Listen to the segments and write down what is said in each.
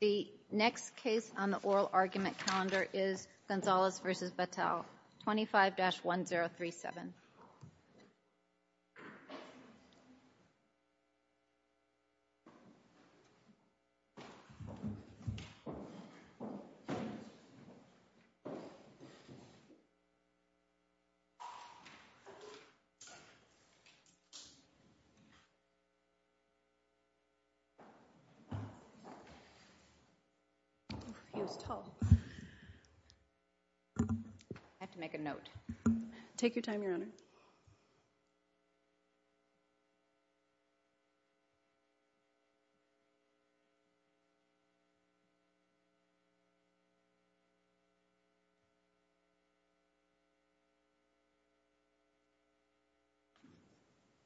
The next case on the oral argument calendar is Gonzales v. Battelle, 25-1037. I have to make a note.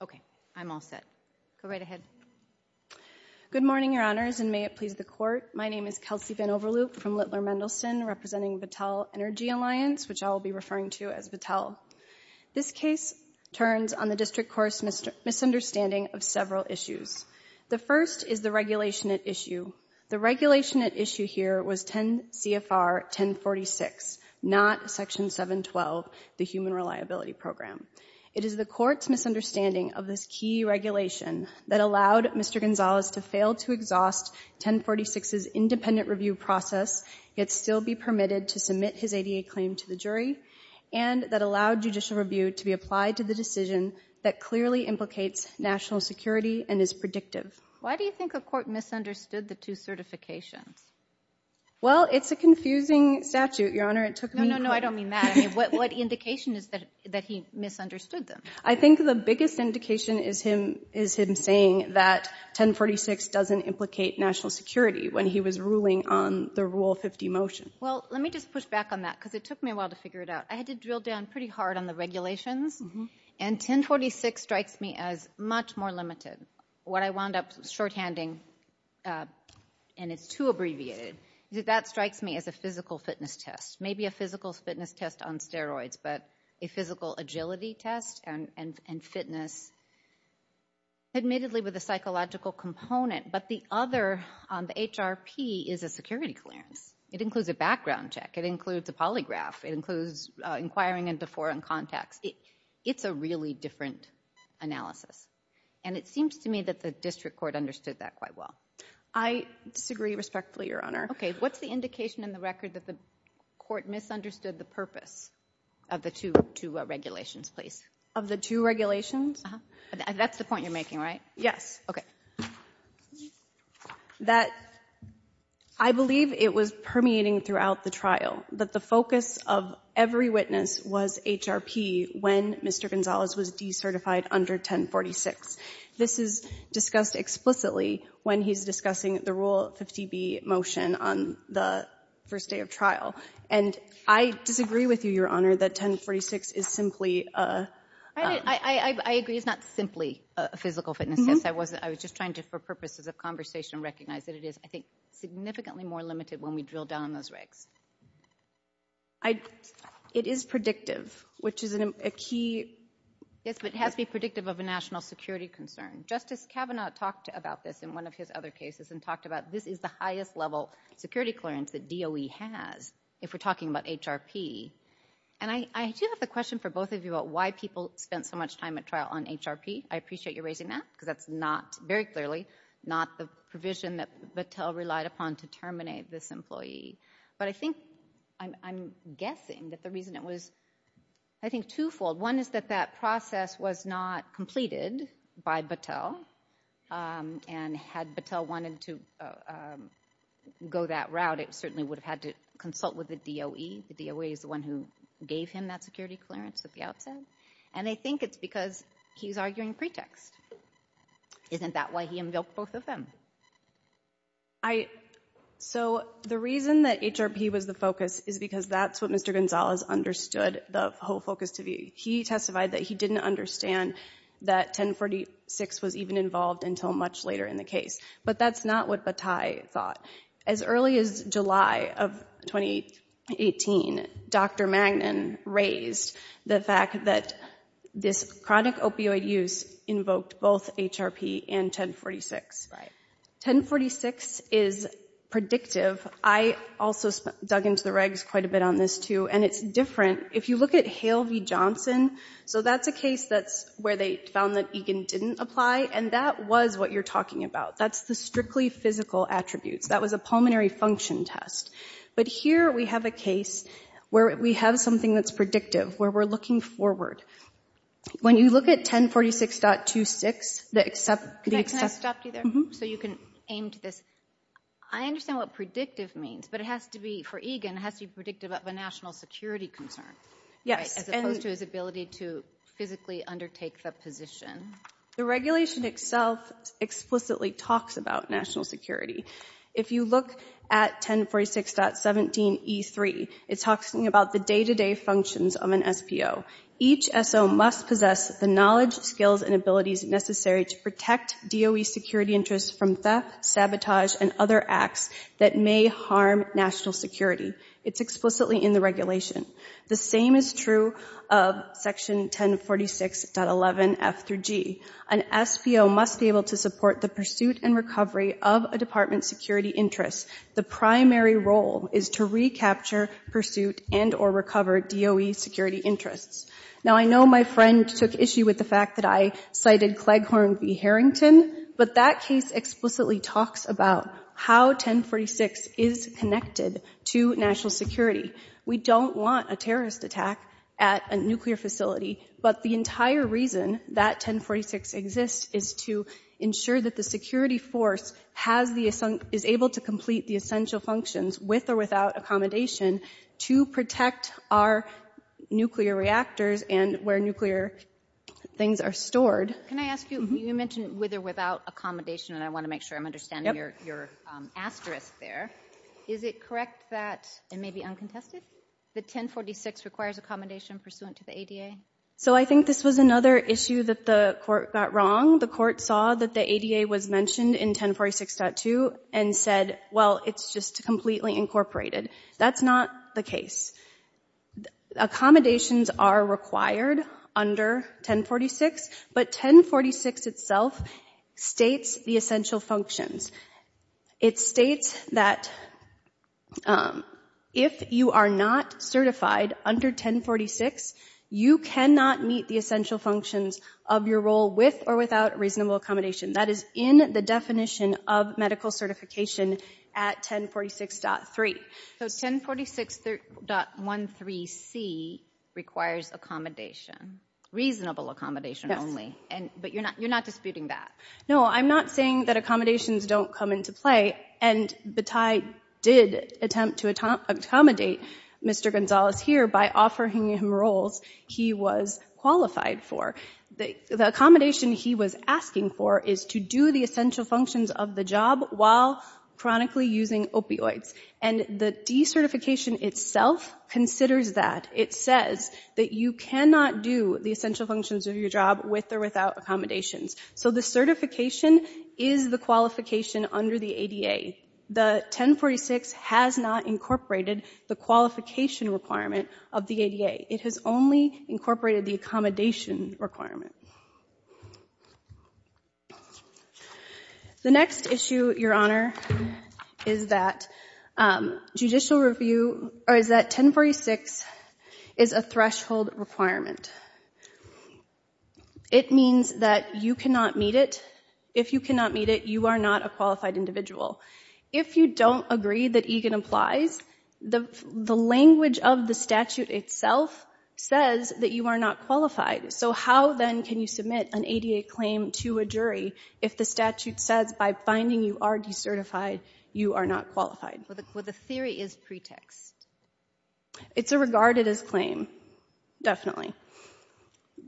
Okay, I'm all set. Go right ahead. Good morning, Your Honors, and may it please the Court. My name is Kelsey Van Overloop from Littler Mendelsohn representing Battelle Energy Alliance, which I will be referring to as Battelle. This case turns on the district court's misunderstanding of several issues. The first is the regulation at issue. The regulation at issue here was 10 CFR 1046, not Section 712, the Human Reliability Program. It is the Court's misunderstanding of this key regulation that allowed Mr. Gonzales to fail to exhaust 1046's independent review process, yet still be permitted to submit his ADA claim to the jury, and that allowed judicial review to be applied to the decision that clearly implicates national security and is predictive. Why do you think the Court misunderstood the two certifications? Well, it's a confusing statute, Your Honor. It took me quite a while. No, no, no. I don't mean that. I mean, what indication is that he misunderstood them? I think the biggest indication is him saying that 1046 doesn't implicate national security when he was ruling on the Rule 50 motion. Well, let me just push back on that because it took me a while to figure it out. I had to drill down pretty hard on the regulations, and 1046 strikes me as much more limited. What I wound up shorthanding, and it's too abbreviated, that strikes me as a physical fitness test. Maybe a physical fitness test on steroids, but a physical agility test and fitness admittedly with a psychological component, but the other, the HRP, is a security clearance. It includes a background check. It includes a polygraph. It includes inquiring into foreign contacts. It's a really different analysis, and it seems to me that the District Court understood that quite well. I disagree respectfully, Your Honor. Okay. What's the indication in the record that the court misunderstood the purpose of the two regulations, please? Of the two regulations? Uh-huh. That's the point you're making, right? Yes. Okay. That I believe it was permeating throughout the trial that the focus of every witness was HRP when Mr. Gonzalez was decertified under 1046. This is discussed explicitly when he's discussing the Rule 50B motion on the first day of trial, and I disagree with you, Your Honor, that 1046 is simply a... I agree it's not simply a physical fitness test. I was just trying to, for purposes of conversation, recognize that it is, I think, significantly more limited when we drill down on those regs. It is predictive, which is a key... Yes, but it has to be predictive of a national security concern. Justice Kavanaugh talked about this in one of his other cases and talked about this is the highest level security clearance that DOE has if we're talking about HRP. And I do have the question for both of you about why people spent so much time at trial on HRP. I appreciate you raising that because that's not, very clearly, not the provision that Battelle relied upon to terminate this employee. But I think, I'm guessing that the reason it was, I think, twofold. One is that that process was not completed by Battelle. And had Battelle wanted to go that route, it certainly would have had to consult with the DOE. The DOE is the one who gave him that security clearance at the outset. And I think it's because he's arguing pretext. Isn't that why he invoked both of them? So the reason that HRP was the focus is because that's what Mr. Gonzalez understood the whole time. He testified that he didn't understand that 1046 was even involved until much later in the case. But that's not what Battelle thought. As early as July of 2018, Dr. Magnin raised the fact that this chronic opioid use invoked both HRP and 1046. 1046 is predictive. I also dug into the regs quite a bit on this too. And it's different. If you look at Hale v. Johnson, so that's a case that's where they found that Egan didn't apply. And that was what you're talking about. That's the strictly physical attributes. That was a pulmonary function test. But here we have a case where we have something that's predictive, where we're looking forward. When you look at 1046.26, the except— Can I stop you there? So you can aim to this. I understand what predictive means, but it has to be, for Egan, it has to be predictive of a national security concern, as opposed to his ability to physically undertake the position. The regulation itself explicitly talks about national security. If you look at 1046.17E3, it talks about the day-to-day functions of an SPO. Each SO must possess the knowledge, skills, and abilities necessary to protect DOE security interests from theft, sabotage, and other acts that may harm national security. It's explicitly in the regulation. The same is true of section 1046.11F-G. An SPO must be able to support the pursuit and recovery of a department's security interests. The primary role is to recapture, pursuit, and or recover DOE security interests. Now I know my friend took issue with the fact that I cited Cleghorn v. Harrington, but that case explicitly talks about how 1046 is connected to national security. We don't want a terrorist attack at a nuclear facility, but the entire reason that 1046 exists is to ensure that the security force is able to complete the essential functions with or without accommodation to protect our nuclear reactors and where nuclear things are stored. Can I ask you, you mentioned with or without accommodation, and I want to make sure I'm understanding your asterisk there. Is it correct that, and maybe uncontested, that 1046 requires accommodation pursuant to the ADA? So I think this was another issue that the court got wrong. The court saw that the ADA was mentioned in 1046.2 and said, well, it's just completely incorporated. That's not the case. Accommodations are required under 1046, but 1046 itself states the essential functions. It states that if you are not certified under 1046, you cannot meet the essential functions of your role with or without reasonable accommodation. That is in the definition of medical certification at 1046.3. So 1046.13C requires accommodation, reasonable accommodation only, but you're not disputing that? No, I'm not saying that accommodations don't come into play, and Bataille did attempt to accommodate Mr. Gonzalez here by offering him roles he was qualified for. The accommodation he was asking for is to do the essential functions of the job while chronically using opioids, and the decertification itself considers that. It says that you cannot do the essential functions of your job with or without accommodations. So the certification is the qualification under the ADA. The 1046 has not incorporated the qualification requirement of the ADA. It has only incorporated the accommodation requirement. The next issue, Your Honor, is that 1046 is a threshold requirement. It means that you cannot meet it. If you cannot meet it, you are not a qualified individual. If you don't agree that EGAN applies, the language of the statute itself says that you are not qualified. So how, then, can you submit an ADA claim to a jury if the statute says by finding you are decertified, you are not qualified? The theory is pretext. It's a regarded as claim, definitely.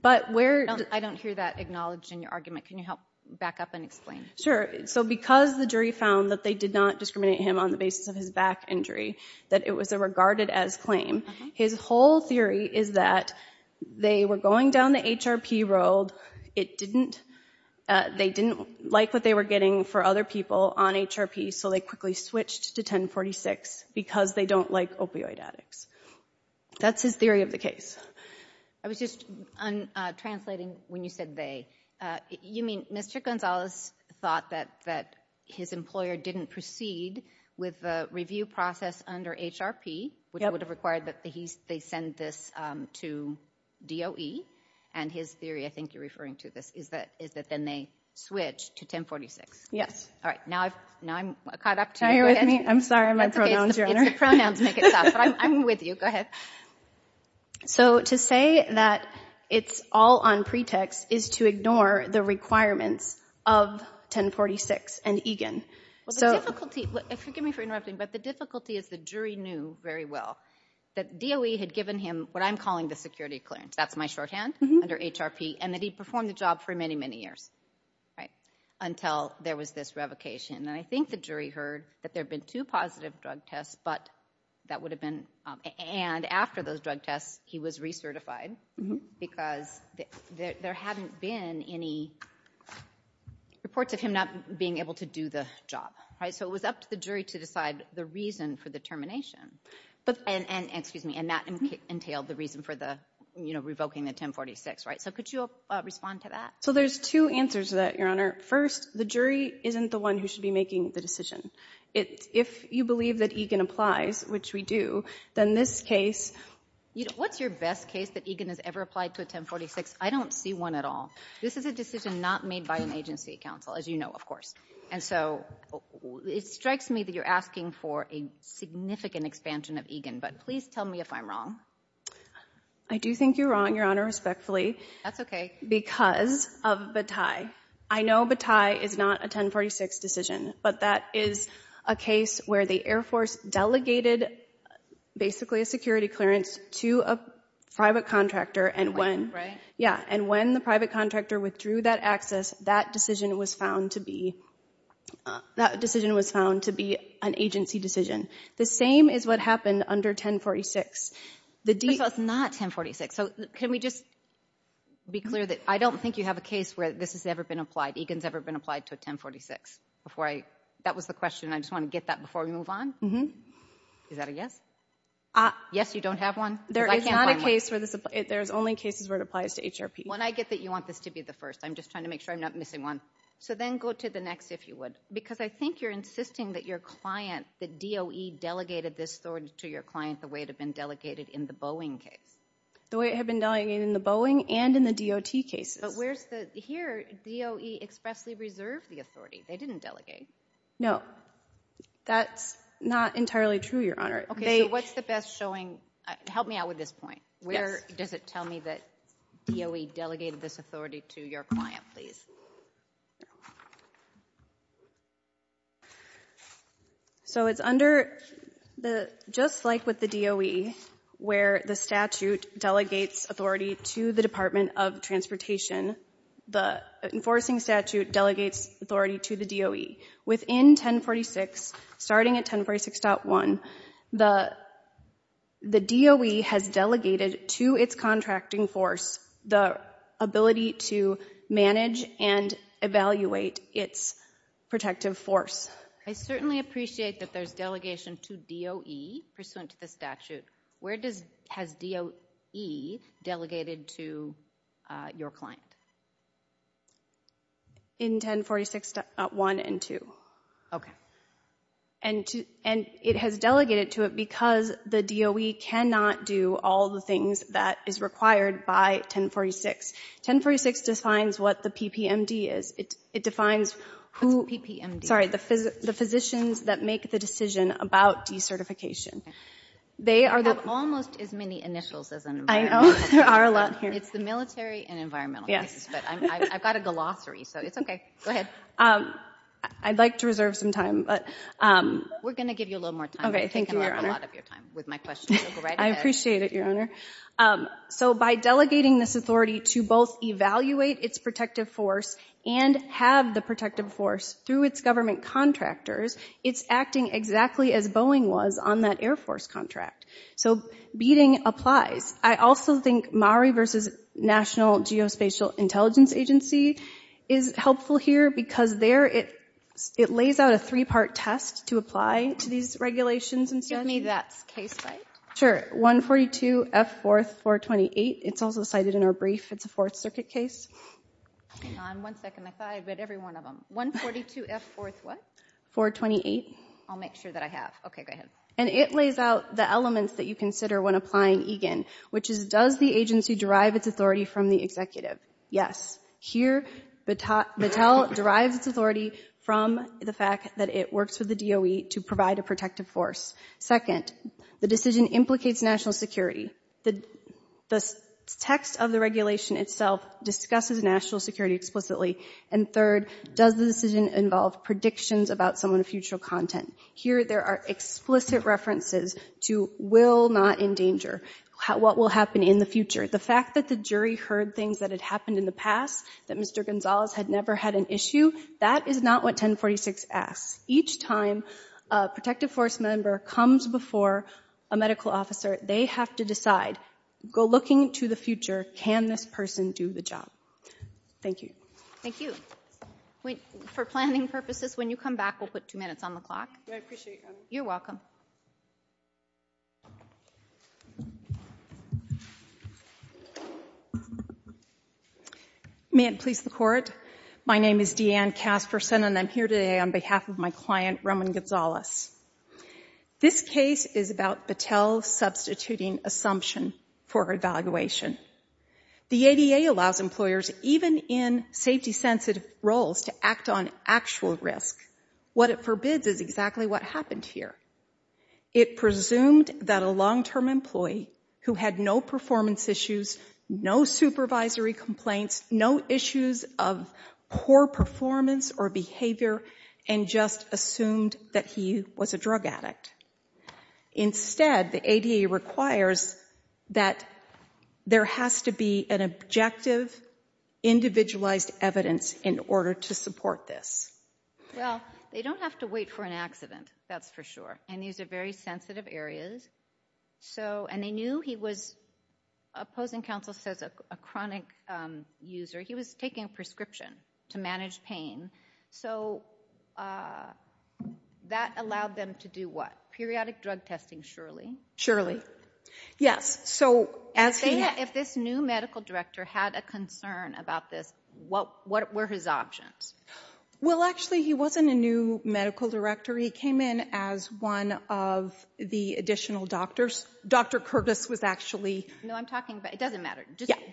But where... I don't hear that acknowledged in your argument. Can you help back up and explain? Sure. So because the jury found that they did not discriminate him on the basis of his back injury, that it was a regarded as claim, his whole theory is that they were going down the HRP road. It didn't... They didn't like what they were getting for other people on HRP, so they quickly switched to 1046 because they don't like opioid addicts. That's his theory of the case. I was just translating when you said they. You mean Mr. Gonzalez thought that his employer didn't proceed with the review process under HRP, which would have required that they send this to DOE. And his theory, I think you're referring to this, is that then they switched to 1046. Yes. All right. Now I'm caught up to you. Now you're with me? I'm sorry. My pronouns, Your Honor. It's okay. It's the pronouns make it sound. But I'm with you. Go ahead. So, to say that it's all on pretext is to ignore the requirements of 1046 and EGAN. Well, the difficulty... Forgive me for interrupting, but the difficulty is the jury knew very well that DOE had given him what I'm calling the security clearance. That's my shorthand under HRP, and that he performed the job for many, many years, right, until there was this revocation. And I think the jury heard that there had been two positive drug tests, but that would have been... And after those drug tests, he was recertified, because there hadn't been any reports of him not being able to do the job, right? So it was up to the jury to decide the reason for the termination, and that entailed the reason for revoking the 1046, right? So could you respond to that? So there's two answers to that, Your Honor. First, the jury isn't the one who should be making the decision. If you believe that EGAN applies, which we do, then this case... What's your best case that EGAN has ever applied to a 1046? I don't see one at all. This is a decision not made by an agency counsel, as you know, of course. And so it strikes me that you're asking for a significant expansion of EGAN, but please tell me if I'm wrong. I do think you're wrong, Your Honor, respectfully. That's okay. Because of Bataille. I know Bataille is not a 1046 decision, but that is a case where the Air Force delegated basically a security clearance to a private contractor, and when the private contractor withdrew that access, that decision was found to be an agency decision. The same is what happened under 1046. But it's not 1046. So can we just be clear that I don't think you have a case where this has ever been applied, EGAN's ever been applied to a 1046 before I... That was the question. I just want to get that before we move on. Mm-hmm. Is that a yes? Yes, you don't have one? Because I can't find one. There is not a case where this... There's only cases where it applies to HRP. When I get that you want this to be the first, I'm just trying to make sure I'm not missing one. So then go to the next, if you would. Because I think you're insisting that your client, the DOE delegated this to your client the way it had been delegated in the Boeing case. The way it had been delegated in the Boeing and in the DOT cases. But where's the... Here, DOE expressly reserved the authority. They didn't delegate. No. That's not entirely true, Your Honor. Okay, so what's the best showing... Help me out with this point. Yes. Where does it tell me that DOE delegated this authority to your client, please? So, it's under the... Just like with the DOE, where the statute delegates authority to the Department of Transportation, the enforcing statute delegates authority to the DOE. Within 1046, starting at 1046.1, the DOE has delegated to its contracting force the ability to manage and evaluate its protective force. I certainly appreciate that there's delegation to DOE pursuant to the statute. Where does... Has DOE delegated to your client? In 1046.1 and 2. Okay. And it has delegated to it because the DOE cannot do all the things that is required by 1046. 1046 defines what the PPMD is. It defines who... What's a PPMD? Sorry. The physicians that make the decision about decertification. They are the... You have almost as many initials as an environmentalist. I know. There are a lot here. It's the military and environmentalists. Yes. But I've got a glossary, so it's okay. Go ahead. I'd like to reserve some time, but... We're going to give you a little more time. Okay. Thank you, Your Honor. We've taken a lot of your time with my questions. So go right ahead. I appreciate it, Your Honor. So by delegating this authority to both evaluate its protective force and have the protective force through its government contractors, it's acting exactly as Boeing was on that Air Force contract. So beating applies. I also think MARI versus National Geospatial Intelligence Agency is helpful here because there it lays out a three-part test to apply to these regulations and stuff. Give me that case file. Sure. 142F4-428. It's also cited in our brief. It's a Fourth Circuit case. Hang on one second. I thought I read every one of them. 142F4-what? 428. I'll make sure that I have. Okay. Go ahead. And it lays out the elements that you consider when applying EGAN, which is, does the agency derive its authority from the executive? Yes. Here, Battelle derives its authority from the fact that it works with the DOE to provide a protective force. Second, the decision implicates national security. The text of the regulation itself discusses national security explicitly. And third, does the decision involve predictions about someone's future content? Here there are explicit references to will not endanger, what will happen in the future. The fact that the jury heard things that had happened in the past, that Mr. Gonzalez had never had an issue, that is not what 1046 asks. Each time a protective force member comes before a medical officer, they have to decide. Go looking to the future. Can this person do the job? Thank you. Thank you. For planning purposes, when you come back, we'll put two minutes on the clock. I appreciate that. You're welcome. May it please the Court. My name is Deanne Casperson, and I'm here today on behalf of my client, Roman Gonzalez. This case is about Battelle substituting assumption for evaluation. The ADA allows employers, even in safety-sensitive roles, to act on actual risk. What it forbids is exactly what happened here. It presumed that a long-term employee who had no performance issues, no supervisory complaints, no issues of poor performance or behavior, and just assumed that he was a drug addict. Instead, the ADA requires that there has to be an objective, individualized evidence in order to support this. Well, they don't have to wait for an accident, that's for sure. And these are very sensitive areas. And they knew he was, opposing counsel says, a chronic user. He was taking a prescription to manage pain. So that allowed them to do what? Periodic drug testing, surely? Surely. Yes. So as he- If this new medical director had a concern about this, what were his options? Well, actually, he wasn't a new medical director. He came in as one of the additional doctors. Dr. Curtis was actually- No, I'm talking about- It doesn't matter.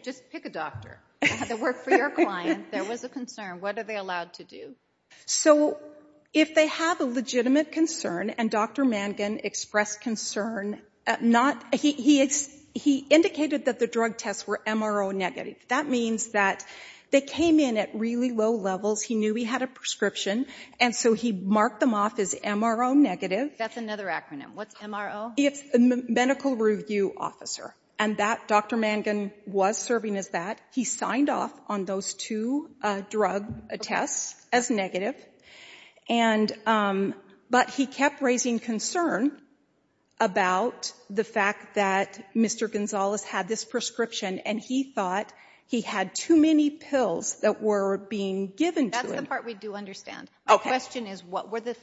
Just pick a doctor. I had to work for your client. There was a concern. What are they allowed to do? So if they have a legitimate concern, and Dr. Mangan expressed concern, he indicated that the drug tests were MRO negative. That means that they came in at really low levels. He knew he had a prescription. And so he marked them off as MRO negative. That's another acronym. What's MRO? It's Medical Review Officer. And that, Dr. Mangan was serving as that. He signed off on those two drug tests as negative. But he kept raising concern about the fact that Mr. Gonzales had this prescription and he thought he had too many pills that were being given to him. One part we do understand. Okay. My question is, what were the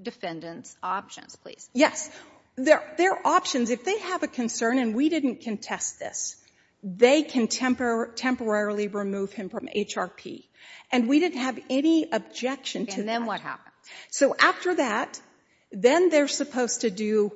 defendant's options, please? Yes. Their options, if they have a concern, and we didn't contest this, they can temporarily remove him from HRP. And we didn't have any objection to that. And then what happened? So after that, then they're supposed to do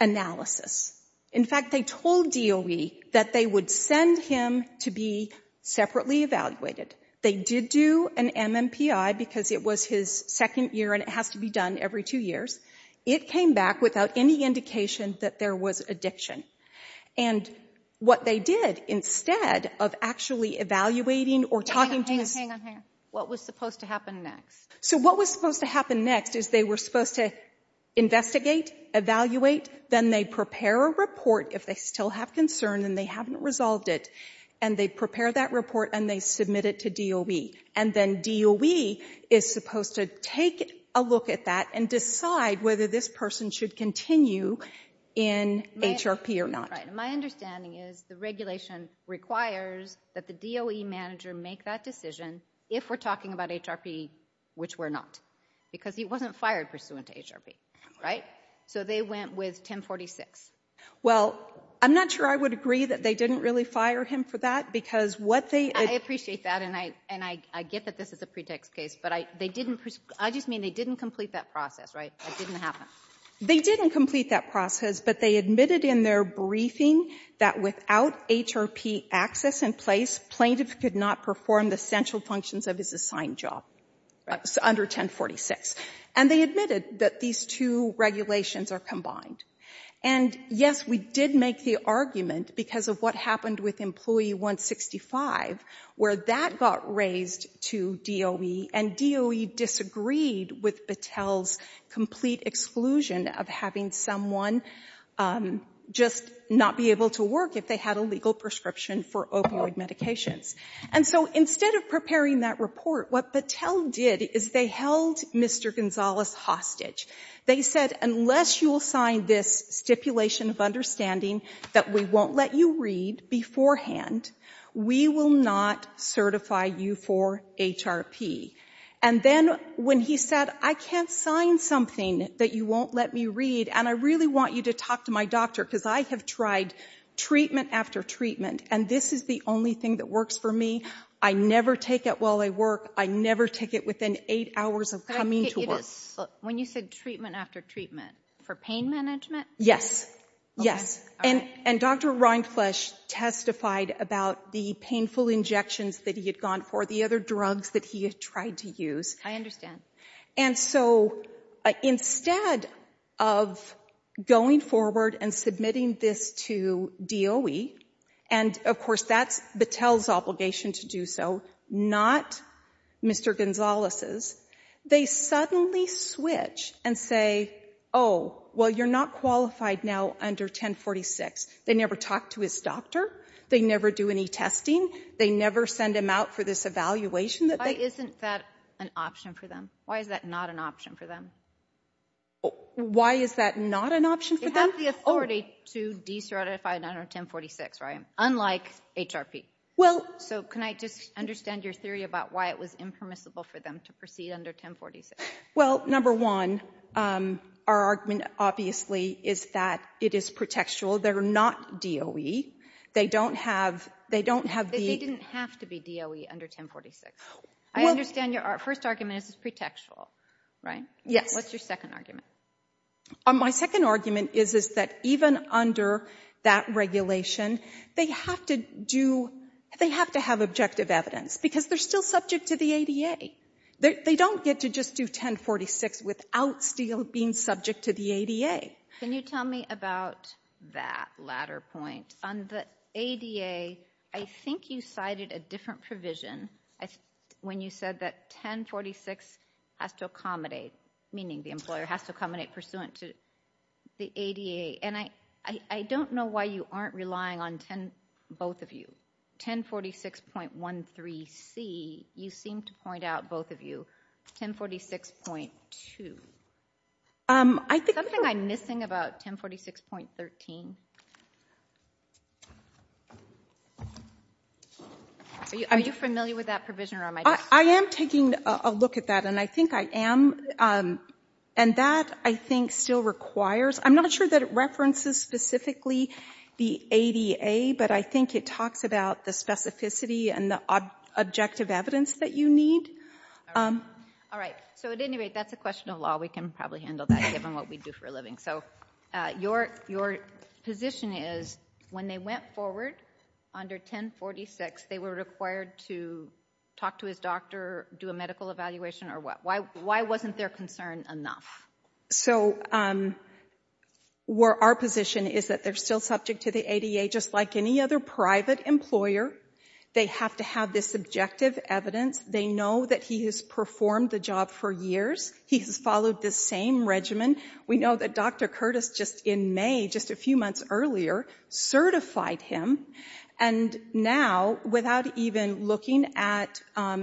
analysis. In fact, they told DOE that they would send him to be separately evaluated. They did do an MMPI because it was his second year and it has to be done every two years. It came back without any indication that there was addiction. And what they did, instead of actually evaluating or talking to his... Hang on. What was supposed to happen next? So what was supposed to happen next is they were supposed to investigate, evaluate. Then they prepare a report if they still have concern and they haven't resolved it. And they prepare that report and they submit it to DOE. And then DOE is supposed to take a look at that and decide whether this person should continue in HRP or not. My understanding is the regulation requires that the DOE manager make that decision if we're talking about HRP, which we're not. Because he wasn't fired pursuant to HRP, right? So they went with 1046. Well, I'm not sure I would agree that they didn't really fire him for that because what they... I appreciate that and I get that this is a pretext case, but I just mean they didn't complete that process, right? That didn't happen. They didn't complete that process, but they admitted in their briefing that without HRP access in place, plaintiff could not perform the central functions of his assigned job under 1046. And they admitted that these two regulations are combined. And yes, we did make the argument because of what happened with employee 165 where that got raised to DOE and DOE disagreed with Battelle's complete exclusion of having someone just not be able to work if they had a legal prescription for opioid medications. And so instead of preparing that report, what Battelle did is they held Mr. Gonzalez hostage. They said, unless you will sign this stipulation of understanding that we won't let you read beforehand, we will not certify you for HRP. And then when he said, I can't sign something that you won't let me read and I really want you to talk to my doctor because I have tried treatment after treatment and this is the only thing that works for me. I never take it while I work. I never take it within eight hours of coming to work. When you said treatment after treatment, for pain management? Yes. Yes. And Dr. Reinflusch testified about the painful injections that he had gone for, the other drugs that he had tried to use. I understand. And so instead of going forward and submitting this to DOE, and of course that's Battelle's obligation to do so, not Mr. Gonzalez's, they suddenly switch and say, oh, well, you're not qualified now under 1046. They never talk to his doctor. They never do any testing. They never send him out for this evaluation that they- Why isn't that an option for them? Why is that not an option for them? Why is that not an option for them? You have the authority to decertify under 1046, right? Unlike HRP. Well- So can I just understand your theory about why it was impermissible for them to proceed under 1046? Well, number one, our argument, obviously, is that it is pretextual. They're not DOE. They don't have- They didn't have to be DOE under 1046. I understand your first argument is it's pretextual, right? Yes. What's your second argument? My second argument is that even under that regulation, they have to do- they have to have objective evidence because they're still subject to the ADA. They don't get to just do 1046 without still being subject to the ADA. Can you tell me about that latter point? On the ADA, I think you cited a different provision when you said that 1046 has to accommodate, meaning the employer has to accommodate pursuant to the ADA. And I don't know why you aren't relying on both of you. 1046.13c, you seem to point out, both of you, 1046.2. I think- Something I'm missing about 1046.13. Are you familiar with that provision or am I- I am taking a look at that, and I think I am. And that, I think, still requires- I'm not sure that it references specifically the ADA, but I think it talks about the specificity and the objective evidence that you need. All right. So, at any rate, that's a question of law. We can probably handle that given what we do for a living. So your position is when they went forward under 1046, they were required to talk to his doctor, do a medical evaluation, or what? Why wasn't their concern enough? So our position is that they're still subject to the ADA, just like any other private employer. They have to have this objective evidence. They know that he has performed the job for years. He has followed the same regimen. We know that Dr. Curtis, just in May, just a few months earlier, certified him. And now, without even looking at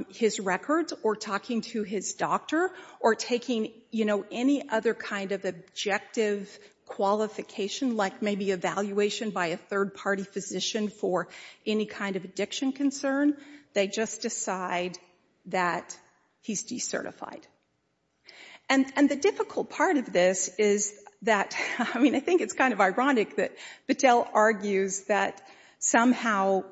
his records or talking to his doctor or taking, you know, any other kind of objective qualification, like maybe evaluation by a third-party physician for any kind of addiction concern, they just decide that he's decertified. And the difficult part of this is that- I mean, I think it's kind of ironic that Battelle argues that somehow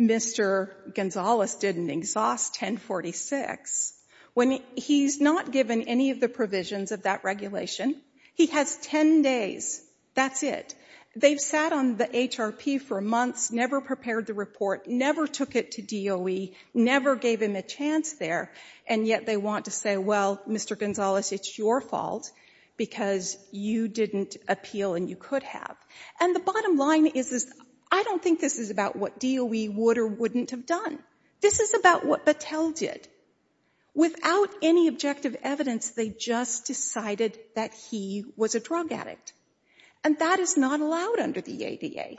Mr. Gonzales didn't exhaust 1046 when he's not given any of the provisions of that regulation. He has 10 days. That's it. They've sat on the HRP for months, never prepared the report, never took it to DOE, never gave him a chance there, and yet they want to say, well, Mr. Gonzales, it's your fault because you didn't appeal and you could have. And the bottom line is, I don't think this is about what DOE would or wouldn't have done. This is about what Battelle did. Without any objective evidence, they just decided that he was a drug addict. And that is not allowed under the ADA.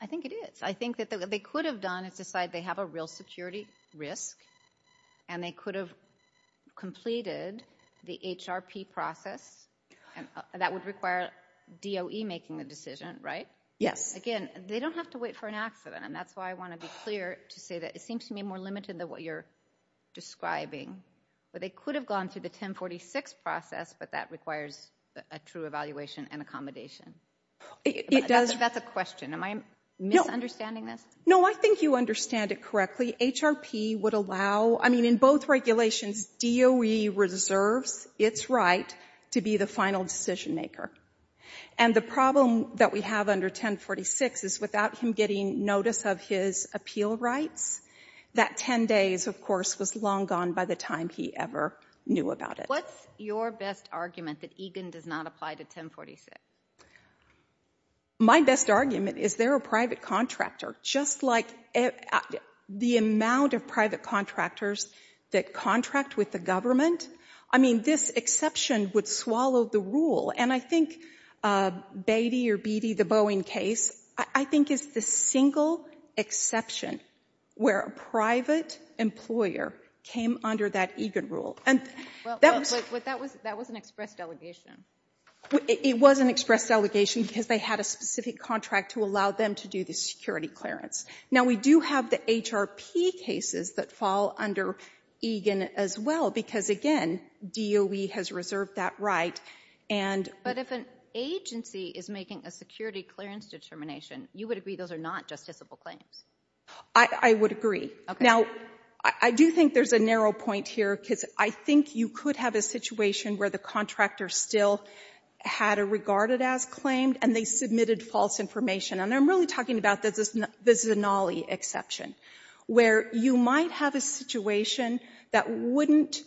I think it is. I think that what they could have done is decide they have a real security risk and they could have completed the HRP process. That would require DOE making the decision, right? Yes. Again, they don't have to wait for an accident. And that's why I want to be clear to say that it seems to me more limited than what you're describing. But they could have gone through the 1046 process, but that requires a true evaluation and accommodation. It does. That's a question. Am I misunderstanding this? No, I think you understand it correctly. HRP would allow, I mean, in both regulations, DOE reserves its right to be the final decision maker. And the problem that we have under 1046 is without him getting notice of his appeal rights, that 10 days, of course, was long gone by the time he ever knew about it. What's your best argument that EGAN does not apply to 1046? My best argument is they're a private contractor. Just like the amount of private contractors that contract with the government, I mean, this exception would swallow the rule. And I think Beatty or Beatty, the Boeing case, I think is the single exception where a private employer came under that EGAN rule. And that was... But that was an express delegation. It was an express delegation because they had a specific contract to allow them to do the security clearance. Now we do have the HRP cases that fall under EGAN as well because, again, DOE has reserved that right and... But if an agency is making a security clearance determination, you would agree those are not justiciable claims? I would agree. Okay. Now, I do think there's a narrow point here because I think you could have a situation where the contractor still had a regarded as claim and they submitted false information. And I'm really talking about the Zanolli exception where you might have a situation that wouldn't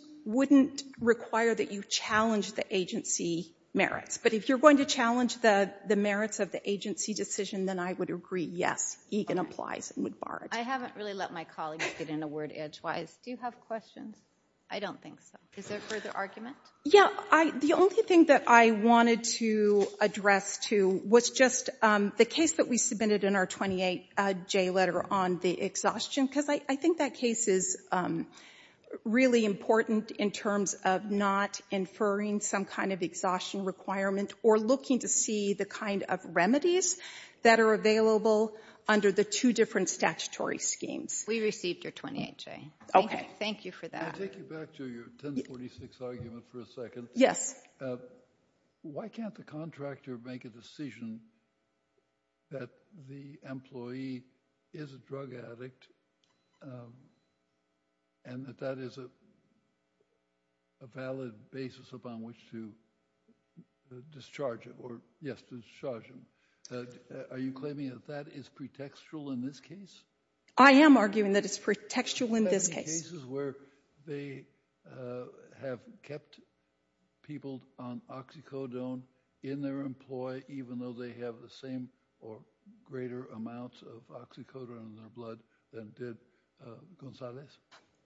require that you challenge the agency merits. But if you're going to challenge the merits of the agency decision, then I would agree, yes, EGAN applies and would bar it. I haven't really let my colleagues get in a word edgewise. Do you have questions? I don't think so. Is there further argument? Yeah, the only thing that I wanted to address too was just the case that we submitted in our 28J letter on the exhaustion because I think that case is really important in terms of not inferring some kind of exhaustion requirement or looking to see the kind of remedies that are available under the two different statutory schemes. We received your 28J. Okay. Thank you for that. Can I take you back to your 1046 argument for a second? Why can't the contractor make a decision that the employee is a drug addict and that that is a valid basis upon which to discharge it or, yes, discharge him? Are you claiming that that is pretextual in this case? I am arguing that it's pretextual in this case. Are there cases where they have kept people on oxycodone in their employee even though they have the same or greater amount of oxycodone in their blood than did Gonzales?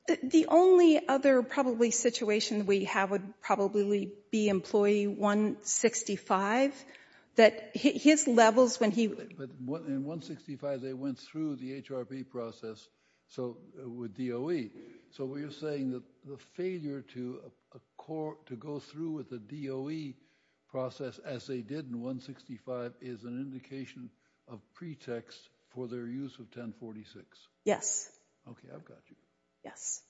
The only other probably situation we have would probably be employee 165 that his levels when he... But in 165 they went through the HRP process with DOE. So you're saying that the failure to go through with the DOE process as they did in 165 is an indication of pretext for their use of 1046? Yes. Okay. I've got you. Yes.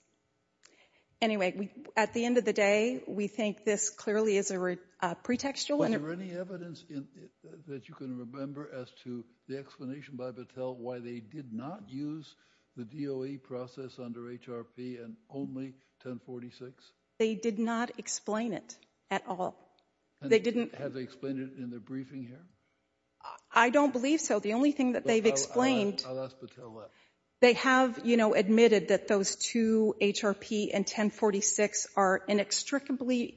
Anyway, at the end of the day, we think this clearly is a pretextual... Is there any evidence that you can remember as to the explanation by Battelle why they did not use the DOE process under HRP and only 1046? They did not explain it at all. They didn't... Have they explained it in their briefing here? I don't believe so. The only thing that they've explained... I'll ask Battelle that. They have, you know, admitted that those two, HRP and 1046, are inextricably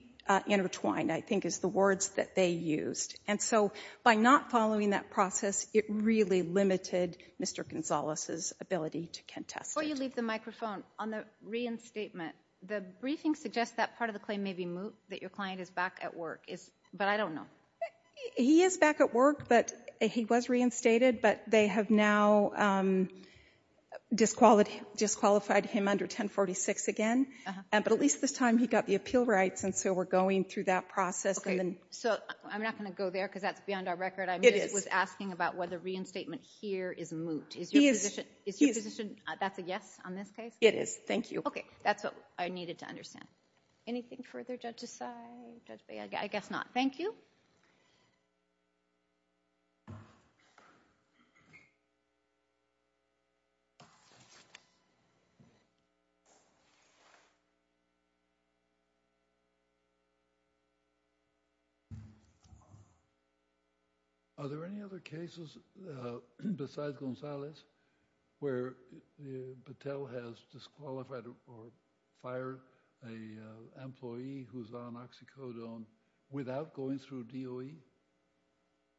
intertwined, I think, is the words that they used. And so by not following that process, it really limited Mr. Gonzalez's ability to contest it. Before you leave the microphone, on the reinstatement, the briefing suggests that part of the claim may be moot, that your client is back at work, but I don't know. He is back at work, but he was reinstated, but they have now disqualified him under 1046 again. But at least this time, he got the appeal rights, and so we're going through that process. So I'm not going to go there because that's beyond our record. I was asking about whether reinstatement here is moot. Is your position that's a yes on this case? It is. Thank you. Okay. That's what I needed to understand. Anything further, Judge Asai? Judge Bay? I guess not. Thank you. Are there any other cases besides Gonzalez where Patel has disqualified or fired an employee who's on oxycodone without going through DOE?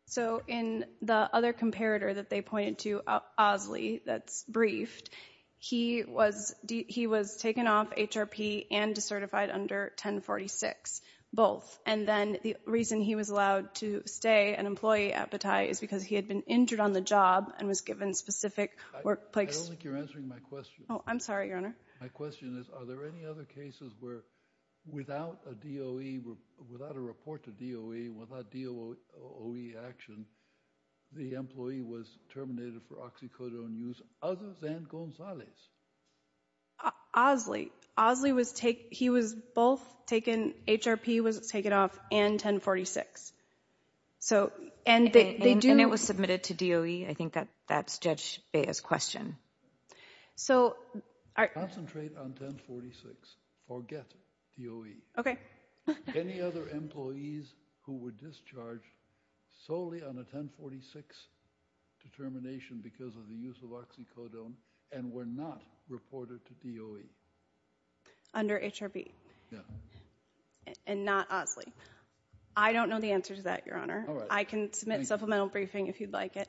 So in the other comparator that they pointed to, Osley, that's briefed, he was taken off HRP and decertified under 1046, both. And then the reason he was allowed to stay an employee at Bataille is because he had been injured on the job and was given specific workplaces. I don't think you're answering my question. Oh, I'm sorry, Your Honor. My question is, are there any other cases where without a DOE, without a report to DOE, without DOE action, the employee was terminated for oxycodone use other than Gonzalez? Osley. Osley was taken, he was both taken, HRP was taken off and 1046. So and they do. And it was submitted to DOE. I think that's Judge Bay's question. Concentrate on 1046. Forget DOE. Any other employees who were discharged solely on a 1046 determination because of the use of oxycodone and were not reported to DOE? Under HRP. Yeah. And not Osley. I don't know the answer to that, Your Honor. I can submit supplemental briefing if you'd like it.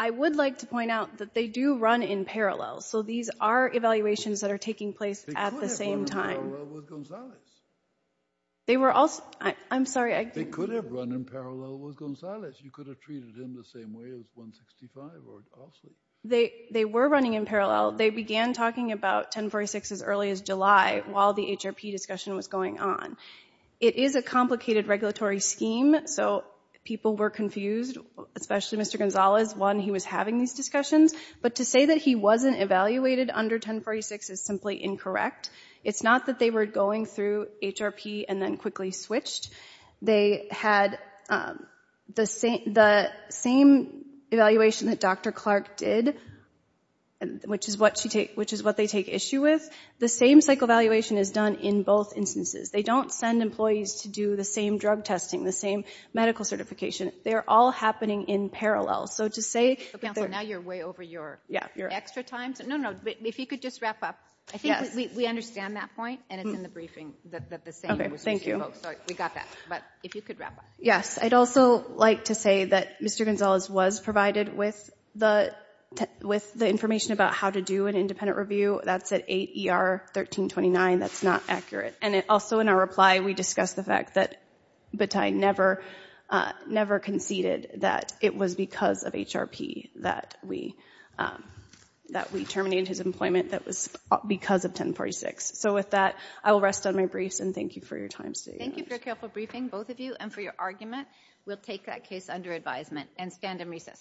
I would like to point out that they do run in parallel. So these are evaluations that are taking place at the same time. They could have run in parallel with Gonzalez. They were also, I'm sorry. They could have run in parallel with Gonzalez. You could have treated him the same way as 165 or Osley. They were running in parallel. They began talking about 1046 as early as July while the HRP discussion was going on. It is a complicated regulatory scheme. So people were confused, especially Mr. Gonzalez when he was having these discussions. But to say that he wasn't evaluated under 1046 is simply incorrect. It's not that they were going through HRP and then quickly switched. They had the same evaluation that Dr. Clark did, which is what they take issue with. The same psych evaluation is done in both instances. They don't send employees to do the same drug testing, the same medical certification. They're all happening in parallel. So to say... Counselor, now you're way over your extra time. No, no. If you could just wrap up. Yes. I think we understand that point and it's in the briefing that the same was used in both. We got that. But if you could wrap up. Yes. I'd also like to say that Mr. Gonzalez was provided with the information about how to do an independent review. That's at 8 ER 1329. That's not accurate. And also in our reply, we discussed the fact that Batai never conceded that it was because of HRP that we terminated his employment that was because of 1046. So with that, I will rest on my briefs and thank you for your time today. Thank you for your careful briefing, both of you, and for your argument. We'll take that case under advisement and stand in recess today.